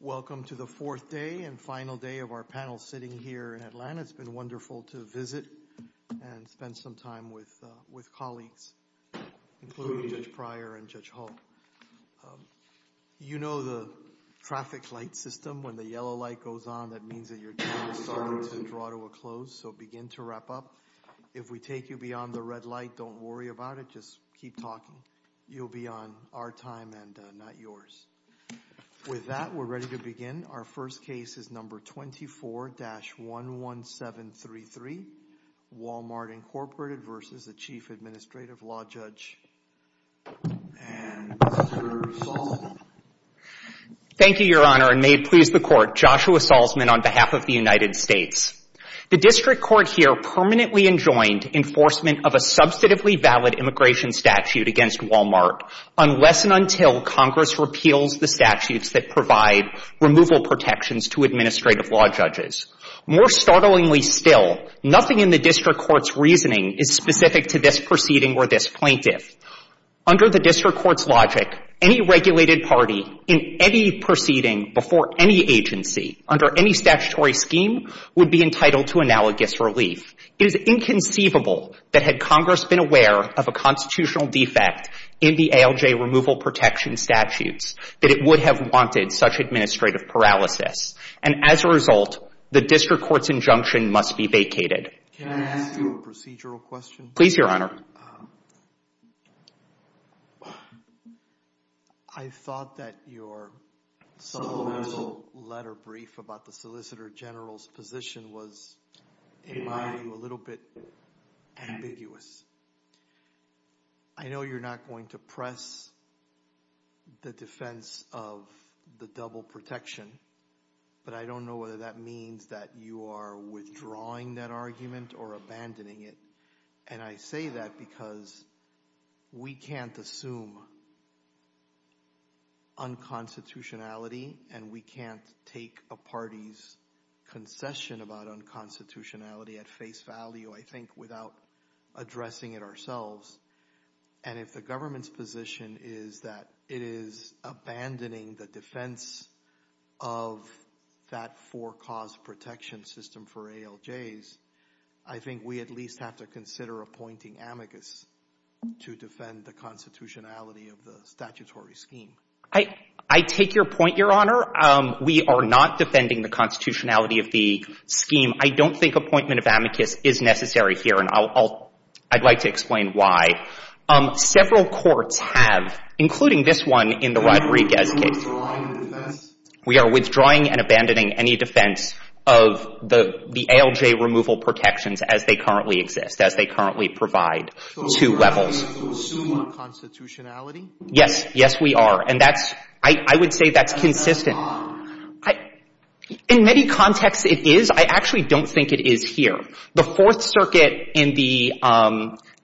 Welcome to the fourth day and final day of our panel sitting here in Atlanta. It's been wonderful to visit and spend some time with colleagues, including Judge Pryor and Judge Hull. You know the traffic light system, when the yellow light goes on, that means that your time is starting to draw to a close, so begin to wrap up. If we take you beyond the red light, don't worry about it, just keep talking. You'll be on our time and not yours. With that, we're ready to begin. Our first case is No. 24-11733, Walmart, Inc. v. Chief Administrative Law Judge, Mr. Saul. Thank you, Your Honor, and may it please the Court, Joshua Saulsman on behalf of the United States. The District Court here permanently enjoined enforcement of a substantively valid immigration statute against Walmart unless and until Congress repeals the statutes that provide removal protections to administrative law judges. More startlingly still, nothing in the District Court's reasoning is specific to this proceeding or this plaintiff. Under the District Court's logic, any regulated party in any proceeding before any agency under any statutory scheme would be entitled to analogous relief. It is inconceivable that had Congress been aware of a constitutional defect in the ALJ removal protection statutes that it would have wanted such administrative paralysis, and as a result, the District Court's injunction must be vacated. Can I ask you a procedural question? Please, Your Honor. I thought that your supplemental letter brief about the Solicitor General's position was, in my view, a little bit ambiguous. I know you're not going to press the defense of the double protection, but I don't know whether that means that you are withdrawing that argument or abandoning it, and I say that because we can't assume unconstitutionality and we can't take a party's concession about unconstitutionality at face value, I think, without addressing it ourselves, and if the government's position is that it is abandoning the defense of that four-cause protection system for ALJs, I think we at least have to consider appointing amicus to defend the constitutionality of the statutory scheme. I take your point, Your Honor. We are not defending the constitutionality of the scheme. I don't think appointment of amicus is necessary here, and I'd like to explain why. Several courts have, including this one in the Rodriguez case— Are you withdrawing the defense? —of the ALJ removal protections as they currently exist, as they currently provide two levels. So we're not going to assume unconstitutionality? Yes. Yes, we are. And that's — I would say that's consistent. In many contexts, it is. I actually don't think it is here. The Fourth Circuit in the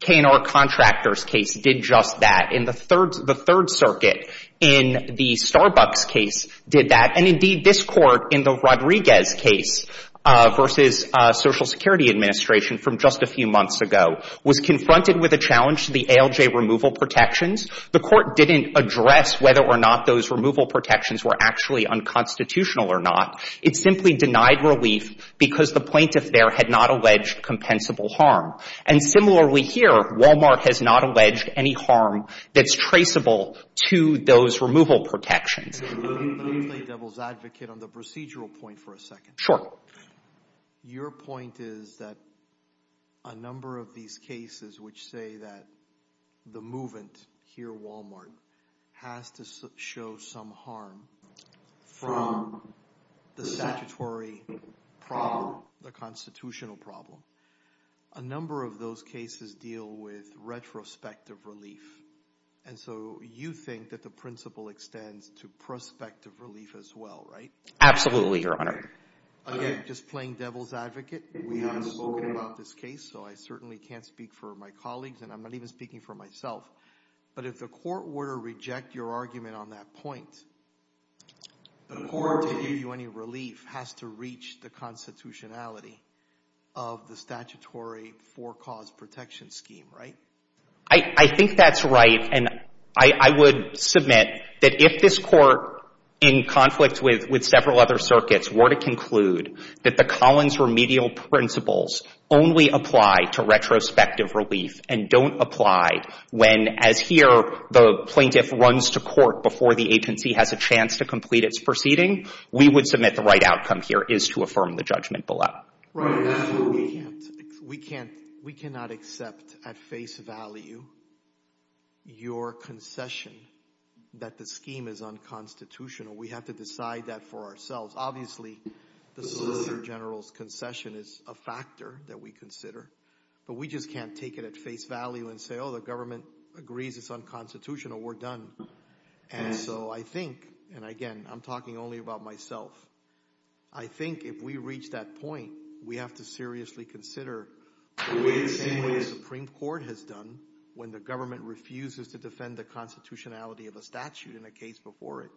K&R Contractors case did just that. In the Third Circuit in the Starbucks case did that. And indeed, this court in the Rodriguez case versus Social Security Administration from just a few months ago was confronted with a challenge to the ALJ removal protections. The court didn't address whether or not those removal protections were actually unconstitutional or not. It simply denied relief because the plaintiff there had not alleged compensable harm. And similarly here, Walmart has not alleged any harm that's traceable to those removal protections. Let me play devil's advocate on the procedural point for a second. Your point is that a number of these cases which say that the movant here, Walmart, has to show some harm from the statutory problem, the constitutional problem. A number of those cases deal with retrospective relief. And so you think that the principle extends to prospective relief as well, right? Absolutely, Your Honor. Again, just playing devil's advocate. We haven't spoken about this case, so I certainly can't speak for my colleagues, and I'm not even speaking for myself. But if the court were to reject your argument on that point, the court to give you any relief has to reach the constitutionality of the statutory for-cause protection scheme, right? I think that's right. And I would submit that if this court, in conflict with several other circuits, were to conclude that the Collins remedial principles only apply to retrospective relief and don't apply when, as here, the plaintiff runs to court before the agency has a chance to complete its proceeding, we would submit the right outcome here is to affirm the judgment below. Absolutely. We cannot accept at face value your concession that the scheme is unconstitutional. We have to decide that for ourselves. Obviously, the Solicitor General's concession is a factor that we consider, but we just can't take it at face value and say, oh, the government agrees it's unconstitutional, we're done. And so I think, and again, I'm talking only about myself, I think if we reach that point, we have to seriously consider the way the Supreme Court has done when the government refuses to defend the constitutionality of a statute in a case before it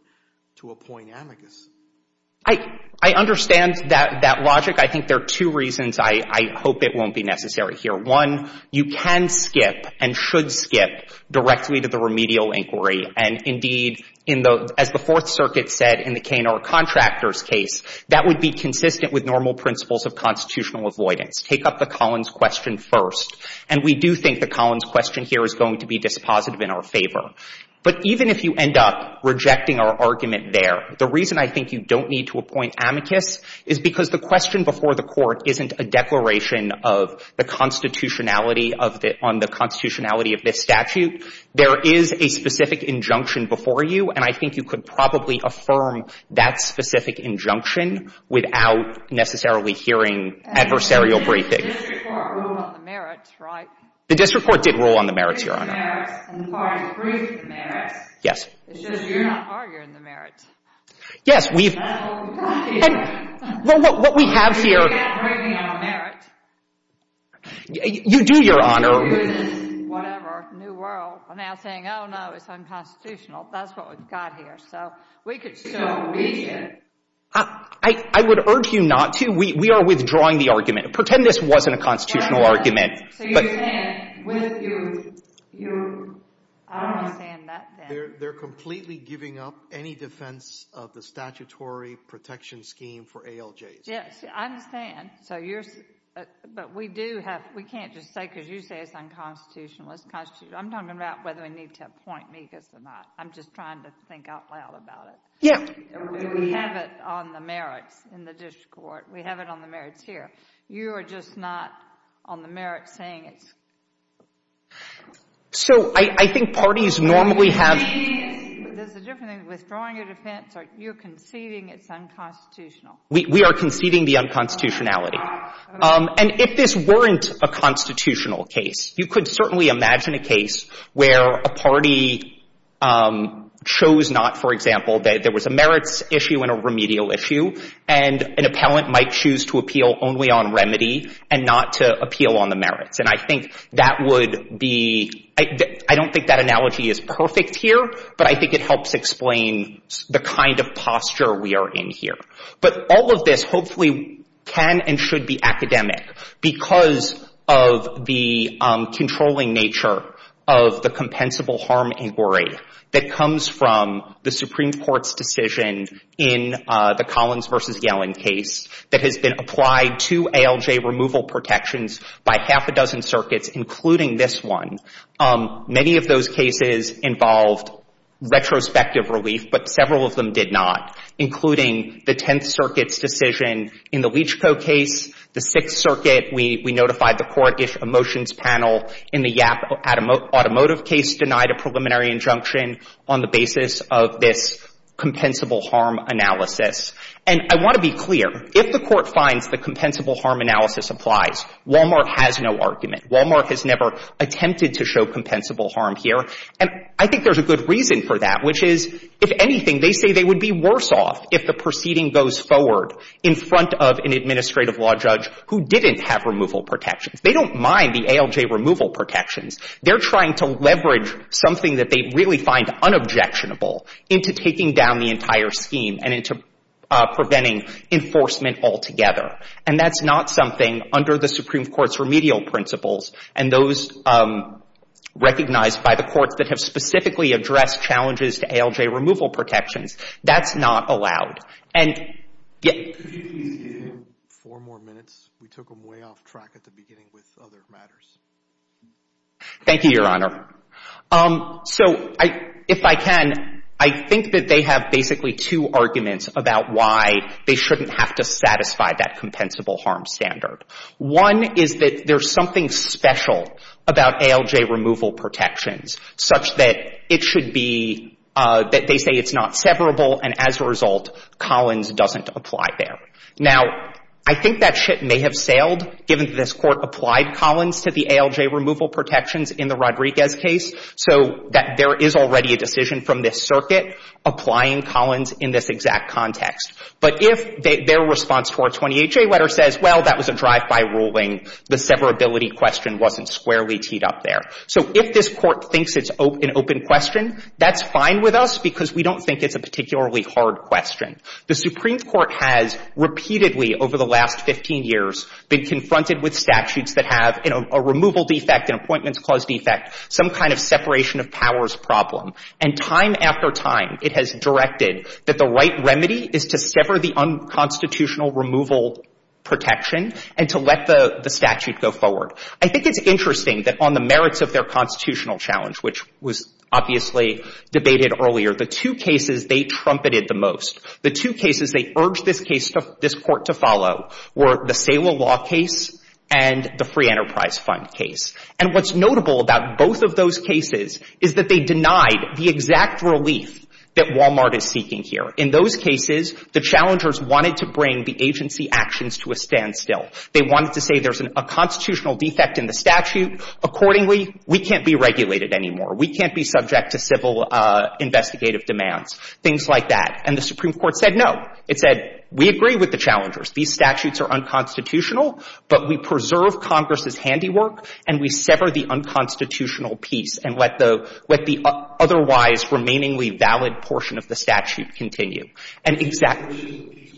to appoint amicus. I understand that logic. I think there are two reasons I hope it won't be necessary here. One, you can skip and should skip directly to the remedial inquiry. And indeed, as the Fourth Circuit said in the Canor Contractors case, that would be consistent with normal principles of constitutional avoidance. Take up the Collins question first. And we do think the Collins question here is going to be dispositive in our favor. But even if you end up rejecting our argument there, the reason I think you don't need to appoint amicus is because the question before the court isn't a declaration of the constitutionality on the constitutionality of this statute. There is a specific injunction before you, and I think you could probably affirm that specific injunction without necessarily hearing adversarial briefing. The district court ruled on the merits, right? The district court did rule on the merits, Your Honor. And the parties agreed to the merits. Yes. It's just you're not arguing the merits. Yes, we've... That's what we're talking about. Well, what we have here... We're not arguing our merit. You do, Your Honor. Whatever. New world. We're now saying, oh, no, it's unconstitutional. That's what we've got here. So we could still reach it. I would urge you not to. We are withdrawing the argument. Pretend this wasn't a constitutional argument. They're completely giving up any defense of the statutory protection scheme for ALJs. Yes, I understand. So you're... But we do have... We can't just say, because you say it's unconstitutional. It's constitutional. I'm talking about whether we need to appoint MIGAs or not. I'm just trying to think out loud about it. Yeah. We have it on the merits in the district court. We have it on the merits here. You are just not on the merits saying it's... So I think parties normally have... There's a different thing with withdrawing your defense. You're conceding it's unconstitutional. We are conceding the unconstitutionality. And if this weren't a constitutional case, you could certainly imagine a case where a party chose not, for example, there was a merits issue and a remedial issue, and an appellant might choose to appeal only on remedy and not to appeal on the merits. And I think that would be... I don't think that analogy is perfect here, but I think it helps explain the kind of posture we are in here. But all of this hopefully can and should be academic because of the controlling nature of the compensable harm inquiry that comes from the Supreme Court's decision in the Collins versus Yellen case that has been applied to ALJ removal protections by half a dozen circuits, including this one. Many of those cases involved retrospective relief, but several of them did not, including the Tenth Circuit's decision in the Leach Co. case. The Sixth Circuit, we notified the court-ish emotions panel in the Yapp automotive case, denied a preliminary injunction on the basis of this compensable harm analysis. And I want to be clear. If the court finds the compensable harm analysis applies, Walmart has no argument. Walmart has never attempted to show compensable harm here. And I think there's a good reason for that, which is, if anything, they say they would be worse off if the proceeding goes forward in front of an administrative law judge who didn't have removal protections. They don't mind the ALJ removal protections. They're trying to leverage something that they really find unobjectionable into taking down the entire scheme and into preventing enforcement altogether. And that's not something under the Supreme Court's remedial principles and those recognized by the courts that have specifically addressed challenges to ALJ removal protections. That's not allowed. And, yeah. Could you please give him four more minutes? We took him way off track at the beginning with other matters. Thank you, Your Honor. So, if I can, I think that they have basically two arguments about why they shouldn't have to satisfy that compensable harm standard. One is that there's something special about ALJ removal protections such that it should be, that they say it's not severable, and as a result, Collins doesn't apply there. Now, I think that shit may have sailed, given that this Court applied Collins to the ALJ removal protections in the Rodriguez case, so that there is already a decision from this circuit applying Collins in this exact context. But if their response to our 28J letter says, well, that was a drive-by ruling, the severability question wasn't squarely teed up there. So, if this Court thinks it's an open question, that's fine with us because we don't think it's a particularly hard question. The Supreme Court has repeatedly, over the last 15 years, been confronted with statutes that have a removal defect, an appointments clause defect, some kind of separation of powers problem. And time after time, it has directed that the right remedy is to sever the unconstitutional removal protection and to let the statute go forward. I think it's interesting that on the merits of their constitutional challenge, which was obviously debated earlier, the two cases they trumpeted the most, the two cases they urged this Court to follow were the Saylor Law case and the Free Enterprise Fund case. And what's notable about both of those cases is that they denied the exact relief that Walmart is seeking here. In those cases, the challengers wanted to bring the agency actions to a standstill. They wanted to say there's a constitutional defect in the statute. Accordingly, we can't be regulated anymore. We can't be subject to civil investigative demands. Things like that. And the Supreme Court said, no. It said, we agree with the challengers. These statutes are unconstitutional, but we preserve Congress's handiwork and we sever the unconstitutional piece and let the otherwise remainingly valid portion of the statute continue. And exactly...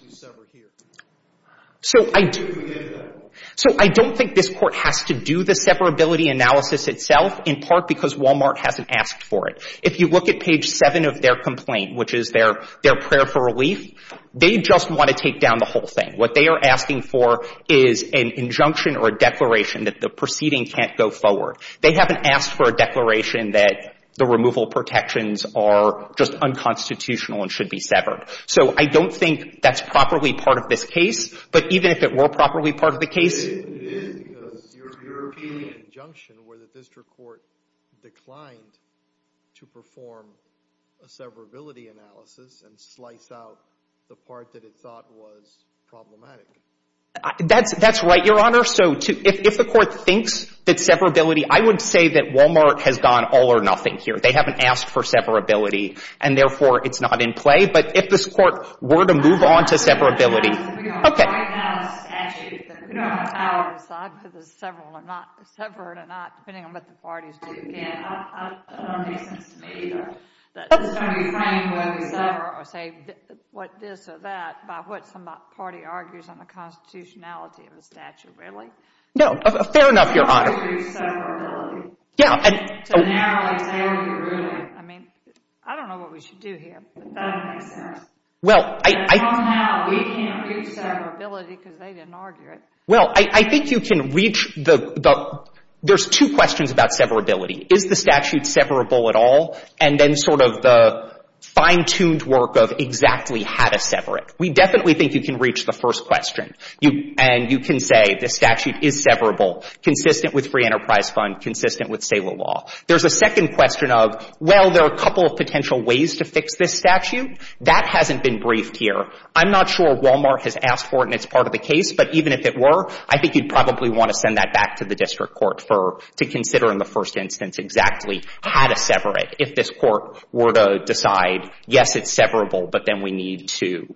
So I don't think this Court has to do the severability analysis itself, in part because Walmart hasn't asked for it. If you look at page 7 of their complaint, which is their prayer for relief, they just want to take down the whole thing. What they are asking for is an injunction or a declaration that the proceeding can't go forward. They haven't asked for a declaration that the removal protections are just unconstitutional and should be severed. So I don't think that's properly part of this case. But even if it were properly part of the case... It is because your European injunction where the district court declined to perform a severability analysis and slice out the part that it thought was problematic. That's right, Your Honor. So if the court thinks that severability... I would say that Walmart has gone all or nothing here. They haven't asked for severability. And therefore, it's not in play. But if this court were to move on to severability... We don't right now have a statute. We don't have a power to decide whether it's severed or not, depending on what the parties do. Again, that doesn't make sense to me, either. It's going to be framed whether we sever or say what this or that by what some party argues on the constitutionality of the statute. Really? No. Fair enough, Your Honor. ...severability to narrow the ruling. I mean, I don't know what we should do here. That doesn't make sense. Well, I... But for now, we can't do severability because they didn't argue it. Well, I think you can reach the... There's two questions about severability. Is the statute severable at all? And then sort of the fine-tuned work of exactly how to sever it. We definitely think you can reach the first question. You... and you can say the statute is severable, consistent with Free Enterprise Fund, consistent with STALEA law. There's a second question of, well, there are a couple of potential ways to fix this statute. That hasn't been briefed here. I'm not sure Walmart has asked for it, and it's part of the case. But even if it were, I think you'd probably want to send that back to the district court for... to consider in the first instance exactly how to sever it. If this court were to decide, yes, it's severable, but then we need to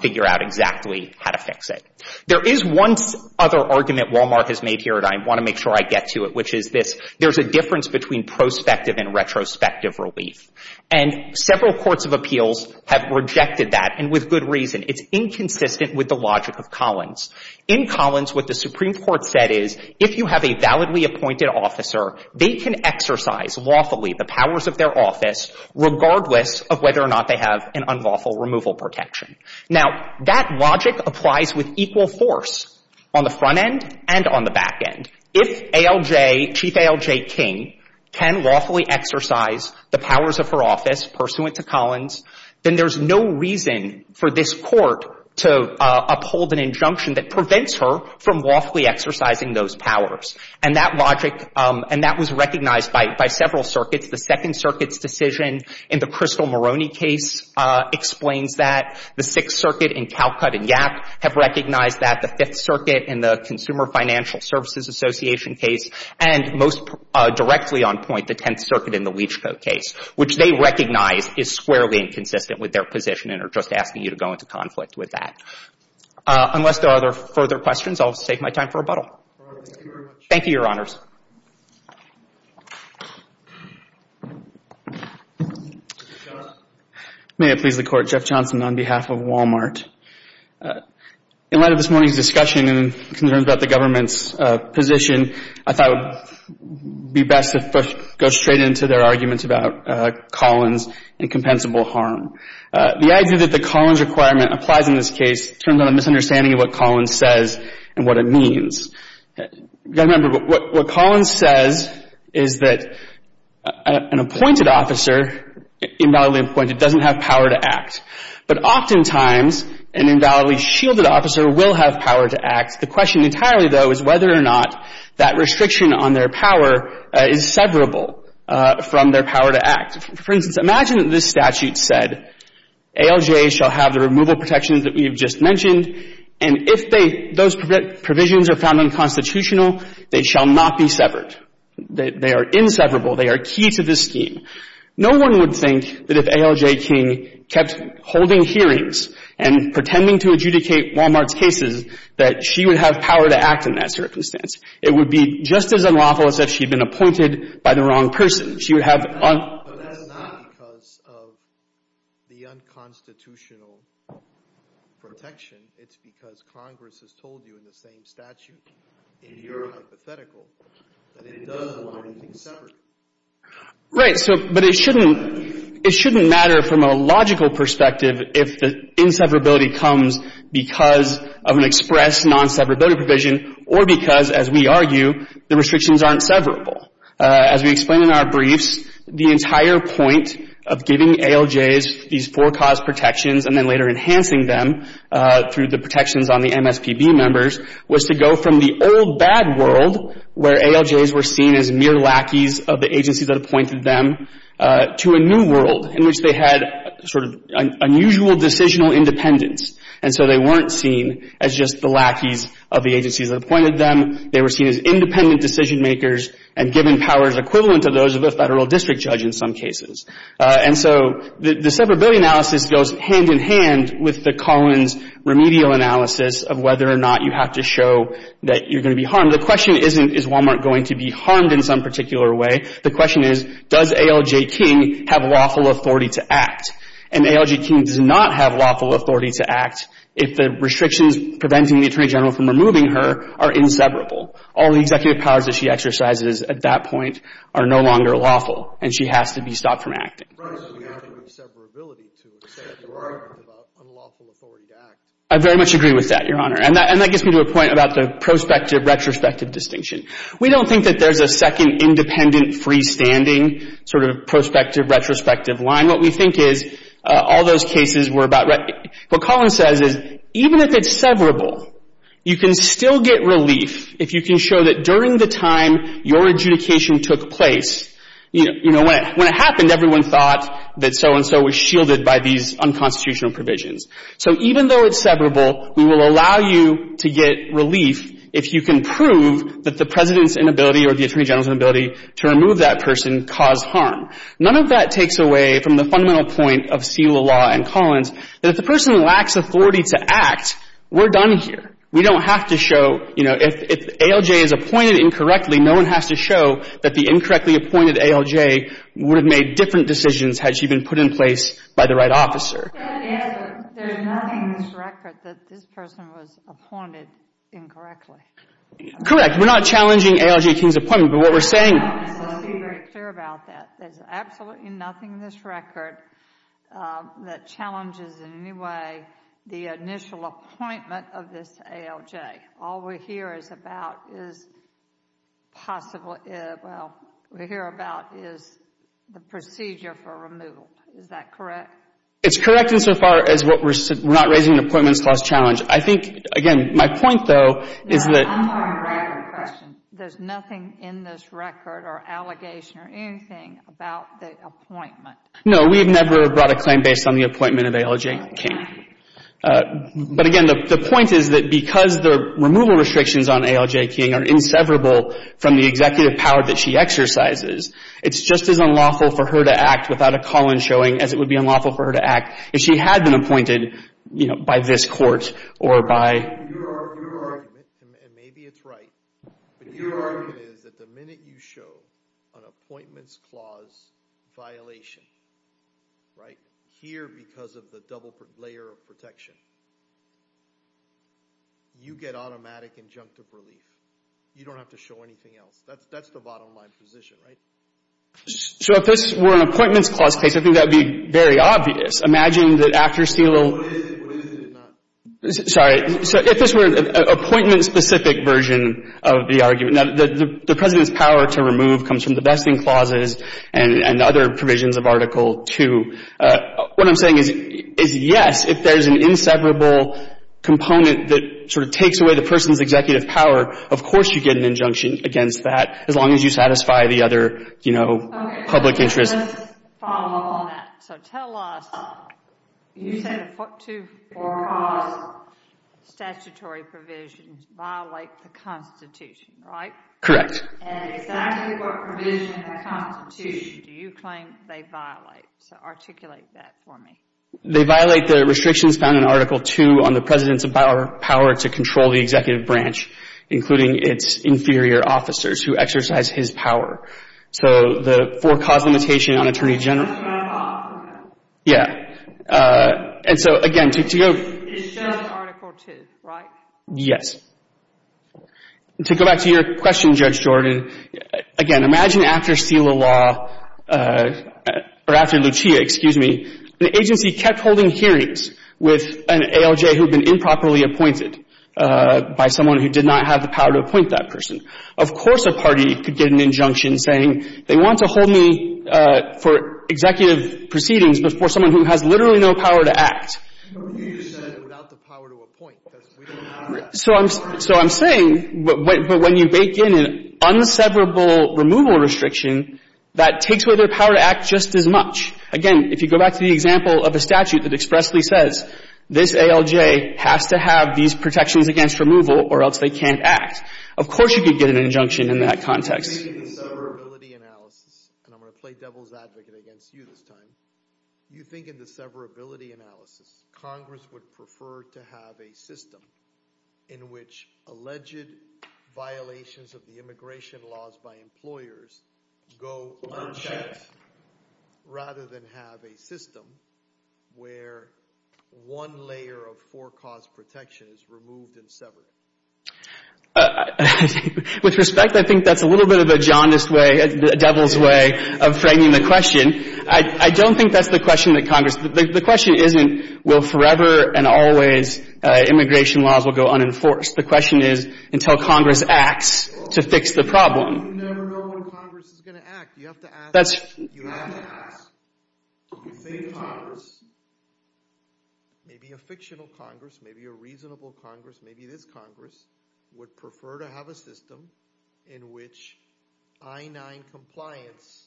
figure out exactly how to fix it. There is one other argument Walmart has made here, and I want to make sure I get to it, which is this. There's a difference between prospective and retrospective relief. And several courts of appeals have rejected that, and with good reason. It's inconsistent with the logic of Collins. In Collins, what the Supreme Court said is, if you have a validly appointed officer, they can exercise lawfully the powers of their office regardless of whether or not they have an unlawful removal protection. Now, that logic applies with equal force on the front end and on the back end. If ALJ, Chief ALJ King, can lawfully exercise the powers of her office pursuant to Collins, then there's no reason for this court to uphold an injunction that prevents her from lawfully exercising those powers. And that logic, and that was recognized by several circuits. The Second Circuit's decision in the Crystal Moroney case explains that. The Sixth Circuit in Calcutt and Yack have recognized that. The Fifth Circuit in the Consumer Financial Services Association case, and most directly on point, the Tenth Circuit in the Leach Code case, which they recognize is squarely inconsistent with their position and are just asking you to go into conflict with that. Unless there are other further questions, I'll take my time for rebuttal. Thank you very much. Thank you, Your Honors. May it please the Court, Jeff Johnson on behalf of Walmart. In light of this morning's discussion and concerns about the government's position, I thought it would be best to first go straight into their arguments about Collins and compensable harm. The idea that the Collins requirement applies in this case turns on a misunderstanding of what Collins says and what it means. You've got to remember, what Collins says is that an appointed officer, invalidly appointed, doesn't have power to act. But oftentimes, an invalidly shielded officer will have power to act. The question entirely, though, is whether or not that restriction on their power is severable from their power to act. For instance, imagine that this statute said, ALJ shall have the removal protections that we have just mentioned, and if those provisions are found unconstitutional, they shall not be severed. They are inseverable. They are key to this scheme. No one would think that if ALJ King kept holding hearings and pretending to adjudicate Walmart's cases, that she would have power to act in that circumstance. It would be just as unlawful as if she'd been appointed by the wrong person. But that's not because of the unconstitutional protection. It's because Congress has told you in the same statute, in your hypothetical, that it does allow anything separate. Right, but it shouldn't matter from a logical perspective if the inseverability comes because of an express non-severability provision or because, as we argue, the restrictions aren't severable. As we explain in our briefs, the entire point of giving ALJs these four cause protections and then later enhancing them through the protections on the MSPB members was to go from the old bad world where ALJs were seen as mere lackeys of the agencies that appointed them to a new world in which they had sort of unusual decisional independence. And so they weren't seen as just the lackeys of the agencies that appointed them. They were seen as independent decision makers and given powers equivalent to those of a federal district judge in some cases. And so the severability analysis goes hand in hand with the Collins remedial analysis of whether or not you have to show that you're going to be harmed. The question isn't, is Walmart going to be harmed in some particular way? The question is, does ALJ King have lawful authority to act? And ALJ King does not have lawful authority to act if the restrictions preventing the Attorney General from removing her are inseverable. All the executive powers that she exercises at that point are no longer lawful and she has to be stopped from acting. Right, so you have the inseverability to say that you are unlawful authority to act. I very much agree with that, Your Honor. And that gets me to a point about the prospective retrospective distinction. We don't think that there's a second independent freestanding sort of prospective retrospective line. What we think is all those cases were about right. What Collins says is even if it's severable, you can still get relief if you can show that during the time your adjudication took place, you know, when it happened, everyone thought that so and so was shielded by these unconstitutional provisions. So even though it's severable, we will allow you to get relief if you can prove that the President's inability or the Attorney General's inability to remove that person caused harm. None of that takes away from the fundamental point of seal of law and Collins that if the person lacks authority to act, we're done here. We don't have to show, you know, if ALJ is appointed incorrectly, no one has to show that the incorrectly appointed ALJ would have made different decisions had she been put in place by the right officer. There's nothing in this record that this person was appointed incorrectly. Correct. We're not challenging ALJ King's appointment, but what we're saying I don't want to be very clear about that. There's absolutely nothing in this record that challenges in any way the initial appointment of this ALJ. All we hear is about is possibly, well, we hear about is the procedure for removal. Is that correct? It's correct insofar as what we're not raising an appointments clause challenge. I think, again, my point though is that I'm on a record question. There's nothing in this record or allegation or anything about the appointment. No, we've never brought a claim based on the appointment of ALJ King. But again, the point is that because the removal restrictions on ALJ King are inseverable from the executive power that she exercises, it's just as unlawful for her to act without a call-in showing as it would be unlawful for her to act if she had been appointed by this court or by... Your argument, and maybe it's right, but your argument is that the minute you show an appointments clause violation, right, here because of the double layer of protection, you get automatic injunctive relief. You don't have to show anything else. That's the bottom line position, right? So if this were an appointments clause case, I think that would be very obvious. Imagine that after seal... What is it? What is it? Sorry. So if this were an appointment-specific version of the argument. Now, the President's power to remove comes from the vesting clauses and other provisions of Article 2. What I'm saying is, yes, if there's an inseverable component that sort of takes away the person's executive power, of course you get an injunction against that as long as you satisfy the other, you know, public interest. Follow up on that. So tell us, you said the four cause statutory provisions violate the Constitution, right? Correct. And exactly what provision of the Constitution do you claim they violate? So articulate that for me. They violate the restrictions found in Article 2 on the President's power to control the executive branch, including its inferior officers who exercise his power. So the four cause limitation on Attorney General... That's what I'm talking about. Yeah. And so, again, to go... It's just Article 2, right? Yes. To go back to your question, Judge Jordan, again, imagine after seal of law, or after Lucia, excuse me, the agency kept holding hearings with an ALJ who'd been improperly appointed by someone who did not have the power to appoint that person. Of course a party could get an injunction saying they want to hold me for executive proceedings before someone who has literally no power to act. But you said without the power to appoint, because we don't have that. So I'm saying, but when you bake in an unseverable removal restriction, that takes away their power to act just as much. Again, if you go back to the example of a statute that expressly says this ALJ has to have these protections against removal or else they can't act. Of course you could get an injunction in that context. You think in the severability analysis, and I'm going to play devil's advocate against you this time. You think in the severability analysis, Congress would prefer to have a system in which alleged violations of the immigration laws by employers go unchecked rather than have a system where one layer of forecast protection is removed and severed? With respect, I think that's a little bit of a jaundiced way, a devil's way of framing the question. I don't think that's the question that Congress, the question isn't will forever and always immigration laws will go unenforced. The question is until Congress acts to fix the problem. You never know when Congress is going to act. You have to ask. That's. You have to ask. You say Congress, maybe a fictional Congress, maybe a reasonable Congress, maybe this Congress would prefer to have a system in which I-9 compliance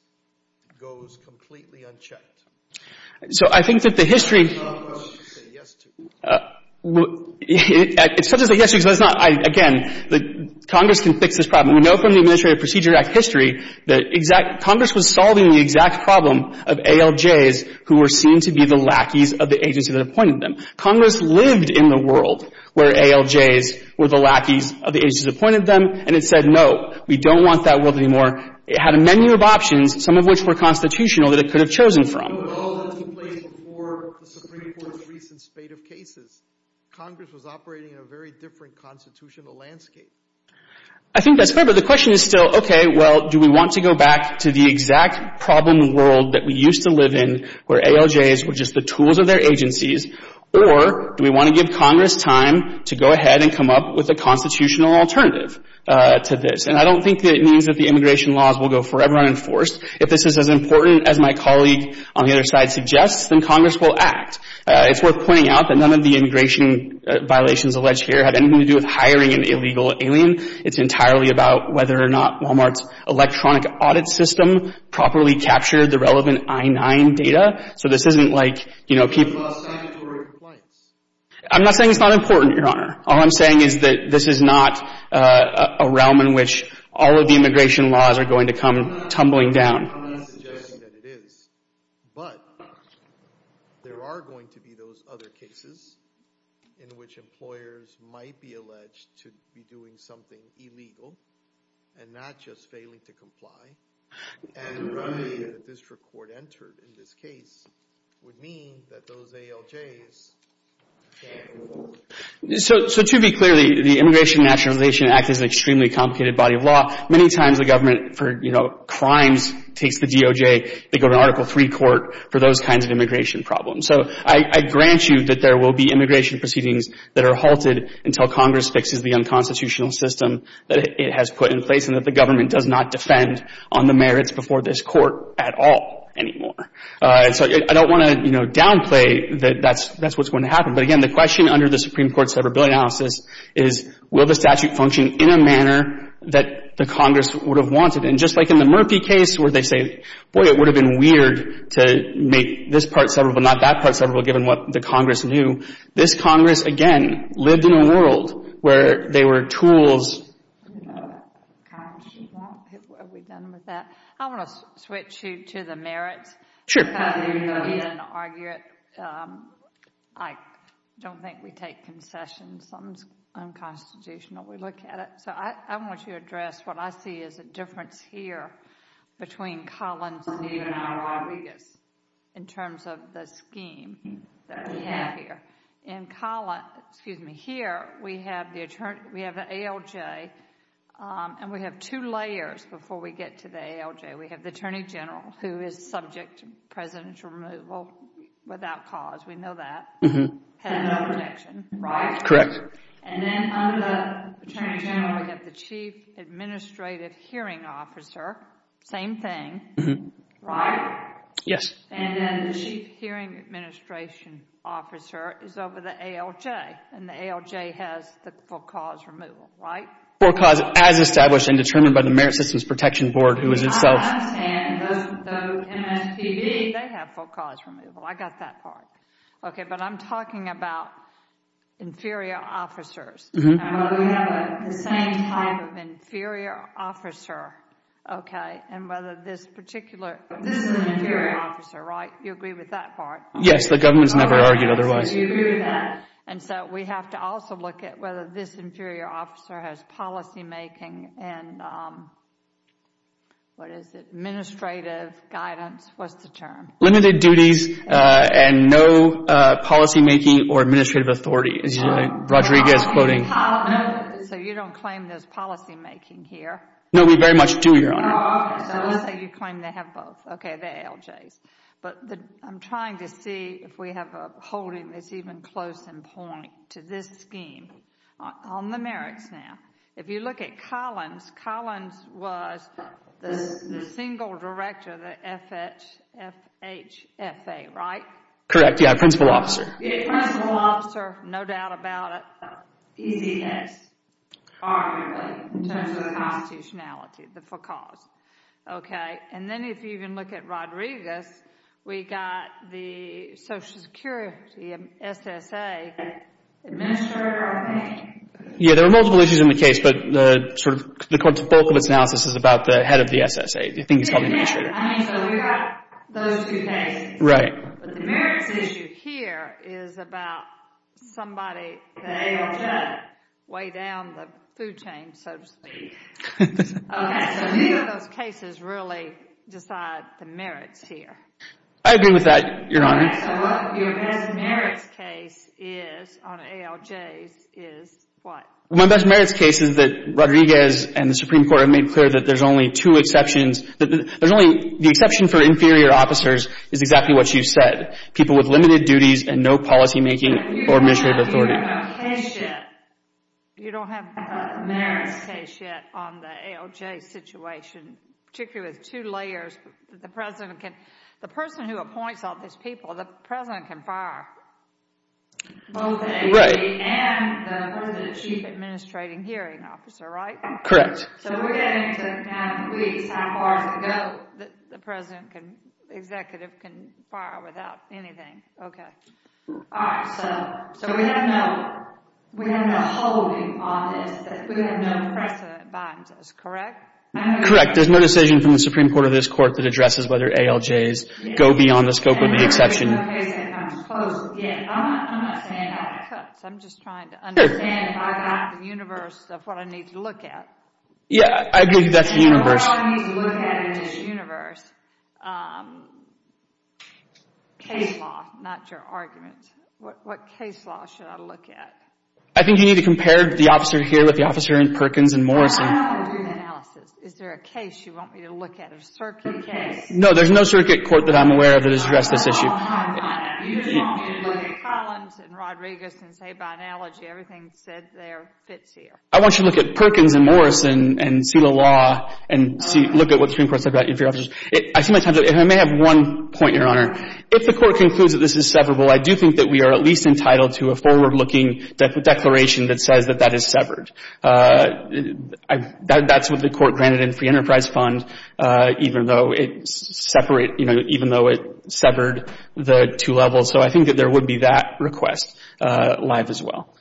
goes completely unchecked. So I think that the history. Congress should say yes to it. It's such a yes because that's not, again, that Congress can fix this problem. We know from the Administrative Procedure Act history that Congress was solving the exact problem of ALJs who were seen to be the lackeys of the agency that appointed them. Congress lived in the world where ALJs were the lackeys of the agencies that appointed them. And it said, no, we don't want that world anymore. It had a menu of options, some of which were constitutional that it could have chosen from. But all that took place before the Supreme Court's recent spate of cases. Congress was operating in a very different constitutional landscape. I think that's fair. But the question is still, okay, well, do we want to go back to the exact problem world that we used to live in where ALJs were just the tools of their agencies or do we want to give Congress time to go ahead and come up with a constitutional alternative to this? And I don't think that it means that the immigration laws will go forever unenforced. If this is as important as my colleague on the other side suggests, then Congress will act. It's worth pointing out that none of the immigration violations alleged here have anything to do with hiring an illegal alien. It's entirely about whether or not Walmart's electronic audit system properly captured the relevant I-9 data. So this isn't like, you know, keep... It's about sanitary compliance. I'm not saying it's not important, Your Honor. All I'm saying is that this is not a realm in which all of the immigration laws are going to come tumbling down. I'm not suggesting that it is. But there are going to be those other cases in which employers might be alleged to be doing something illegal and not just failing to comply. And the record entered in this case would mean that those ALJs can't rule. So to be clear, the Immigration and Nationalization Act is an extremely complicated body of law. Many times the government for, you know, crimes takes the DOJ. They go to Article III court for those kinds of immigration problems. So I grant you that there will be immigration proceedings that are halted until Congress fixes the unconstitutional system that it has put in place and that the government does not defend on the merits before this court at all anymore. So I don't want to, you know, downplay that that's what's going to happen. But again, the question under the Supreme Court's severability analysis is will the statute function in a manner that the Congress would have wanted? And just like in the Murphy case where they say, boy, it would have been weird to make this part severable, not that part severable, given what the Congress knew. This Congress, again, lived in a world where they were tools... Are we done with that? I want to switch you to the merits. Sure. I don't think we take concessions. Something's unconstitutional. We look at it. So I want to address what I see is a difference here between Collins and Rodriguez in terms of the scheme that we have here. In Collins, excuse me, here we have the ALJ and we have two layers before we get to the ALJ. We have the Attorney General who is subject to presidential removal without cause. We know that. Had no protection, right? Correct. And then under the Attorney General, we have the Chief Administrative Hearing Officer. Same thing, right? Yes. And then the Chief Hearing Administration Officer is over the ALJ and the ALJ has the full cause removal, right? Full cause as established and determined by the Merit Systems Protection Board, who is itself... I understand. And those MSPB, they have full cause removal. I got that part. Okay, but I'm talking about inferior officers. Mm-hmm. We have the same type of inferior officer, okay? And whether this particular... This is an inferior officer, right? You agree with that part? Yes, the government's never argued otherwise. You agree with that? And so we have to also look at whether this inferior officer has policymaking and... What is it? Administrative guidance. What's the term? Limited duties and no policymaking or administrative authority, as Rodriguez is quoting. So you don't claim there's policymaking here? No, we very much do, Your Honor. Oh, okay. So let's say you claim they have both. Okay, the ALJs. But I'm trying to see if we have a holding that's even close in point to this scheme. On the merits now, if you look at Collins, Collins was the single director of the FHFA, right? Correct, yeah, principal officer. Yeah, principal officer, no doubt about it. Easy case, arguably, in terms of the constitutionality, the full cause. Okay, and then if you even look at Rodriguez, we got the Social Security SSA, administrator of the bank. Yeah, there are multiple issues in the case, but the bulk of its analysis is about the head of the SSA. Do you think he's called administrator? I mean, so we've got those two cases. Right. But the merits issue here is about somebody... Weigh down the food chain, so to speak. Okay, so neither of those cases really decide the merits here. I agree with that, Your Honor. So what your best merits case is on ALJs is what? My best merits case is that Rodriguez and the Supreme Court have made clear that there's only two exceptions. The exception for inferior officers is exactly what you said, people with limited duties and no policymaking or administrative authority. Case yet. You don't have a merits case yet on the ALJ situation, particularly with two layers. The person who appoints all these people, the president can fire. Both ALJ and the chief administrating hearing officer, right? Correct. So we're getting to kind of please how far does it go that the executive can fire without anything. Okay. All right, so we have no holding on this. We have no precedent binds us, correct? Correct. There's no decision from the Supreme Court or this court that addresses whether ALJs go beyond the scope of the exception. I'm not saying that cuts. I'm just trying to understand if I got the universe of what I need to look at. Yeah, I agree that's the universe. What I need to look at in this universe. Um, case law, not your argument. What case law should I look at? I think you need to compare the officer here with the officer in Perkins and Morrison. Is there a case you want me to look at? A circuit case? No, there's no circuit court that I'm aware of that has addressed this issue. I want you to look at Perkins and Morrison and see the law and look at what the Supreme Court said about inferior officers. I may have one point, Your Honor. If the court concludes that this is severable, I do think that we are at least entitled to a forward-looking declaration that says that that is severed. That's what the court granted in free enterprise fund, even though it's separate, you know, even though it severed the two levels. So I think that there would be that request live as well.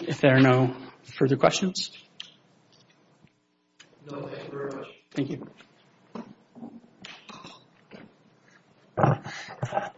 If there are no further questions. No, thank you very much. Thank you.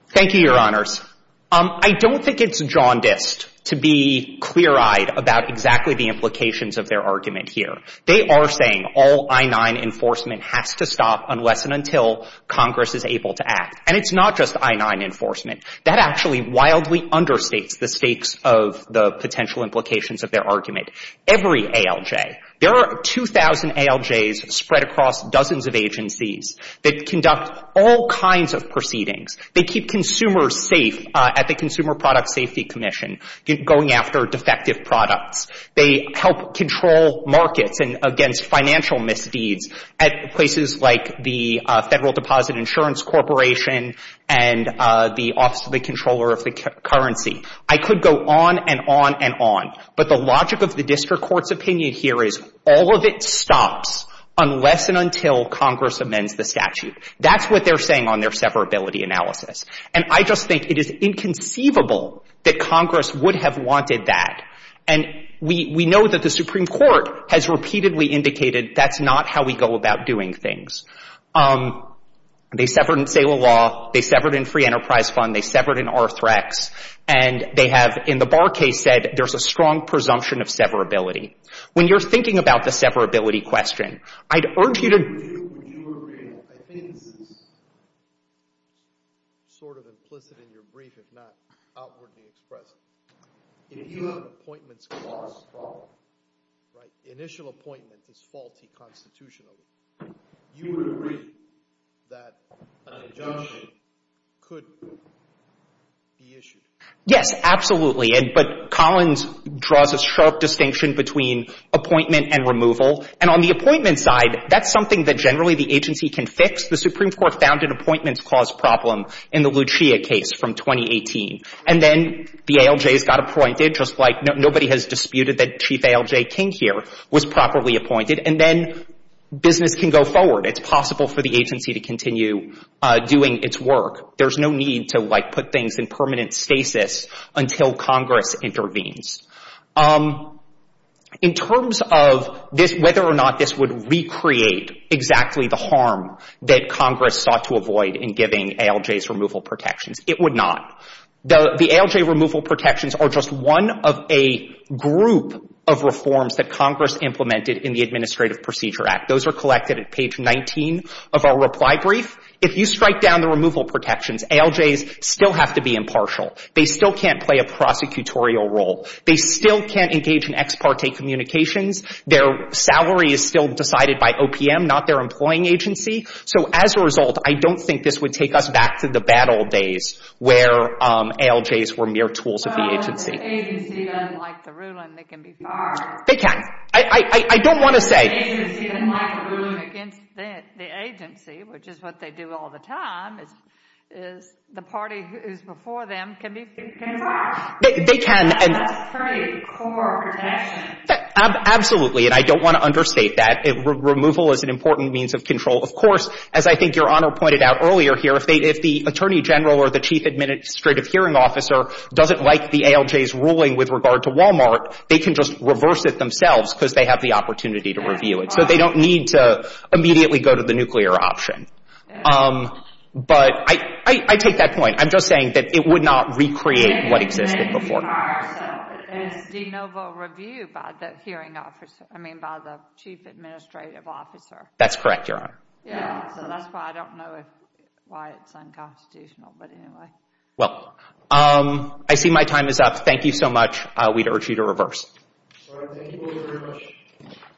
Thank you, Your Honors. I don't think it's jaundiced to be clear-eyed about exactly the implications of their argument here. They are saying all I-9 enforcement has to stop unless and until Congress is able to act. And it's not just I-9 enforcement. That actually wildly understates the stakes of the potential implications of their argument. Every ALJ, there are 2,000 ALJs spread across dozens of agencies that conduct all kinds of proceedings. They keep consumers safe at the Consumer Product Safety Commission, going after defective products. They help control markets against financial misdeeds at places like the Federal Deposit Insurance Corporation and the Office of the Comptroller of the Currency. I could go on and on and on. But the logic of the District Court's opinion here is all of it stops unless and until Congress amends the statute. That's what they're saying on their severability analysis. And I just think it is inconceivable that Congress would have wanted that. And we know that the Supreme Court has repeatedly indicated that's not how we go about doing things. They severed in SALA law. They severed in Free Enterprise Fund. They severed in Arthrex. And they have, in the Barr case, said, there's a strong presumption of severability. When you're thinking about the severability question, I'd urge you to... I think this is sort of implicit in your brief, if not outwardly expressed. If you have an appointments clause problem, right, initial appointment is faulty constitutionally, you would agree that an injunction could be issued. Yes, absolutely. But Collins draws a sharp distinction between appointment and removal. And on the appointment side, that's something that generally the agency can fix. The Supreme Court found an appointments clause problem in the Lucia case from 2018. And then the ALJs got appointed, just like nobody has disputed that Chief ALJ King here was properly appointed. And then business can go forward. It's possible for the agency to continue doing its work. There's no need to, like, put things in permanent stasis until Congress intervenes. In terms of whether or not this would recreate exactly the harm that Congress sought to avoid in giving ALJs removal protections, it would not. The ALJ removal protections are just one of a group of reforms that Congress implemented in the Administrative Procedure Act. Those are collected at page 19 of our reply brief. If you strike down the removal protections, ALJs still have to be impartial. They still can't play a prosecutorial role. They still can't engage in ex parte communications. Their salary is still decided by OPM, not their employing agency. So as a result, I don't think this would take us back to the bad old days where ALJs were mere tools of the agency. If the agency doesn't like the ruling, they can be fired. They can. I don't want to say... If the agency doesn't like the ruling against the agency, which is what they do all the time, is the party who's before them can be fired. They can. Absolutely. And I don't want to understate that. Removal is an important means of control. Of course, as I think Your Honor pointed out earlier here, if the Attorney General or the Chief Administrative Hearing Officer doesn't like the ALJ's ruling with regard to Walmart, they can just reverse it themselves because they have the opportunity to review it. So they don't need to immediately go to the nuclear option. But I take that point. I'm just saying that it would not recreate what existed before. It's a de novo review by the hearing officer. I mean, by the Chief Administrative Officer. That's correct, Your Honor. Yeah, so that's why I don't know why it's unconstitutional. But anyway. Well, I see my time is up. Thank you so much. We'd urge you to reverse.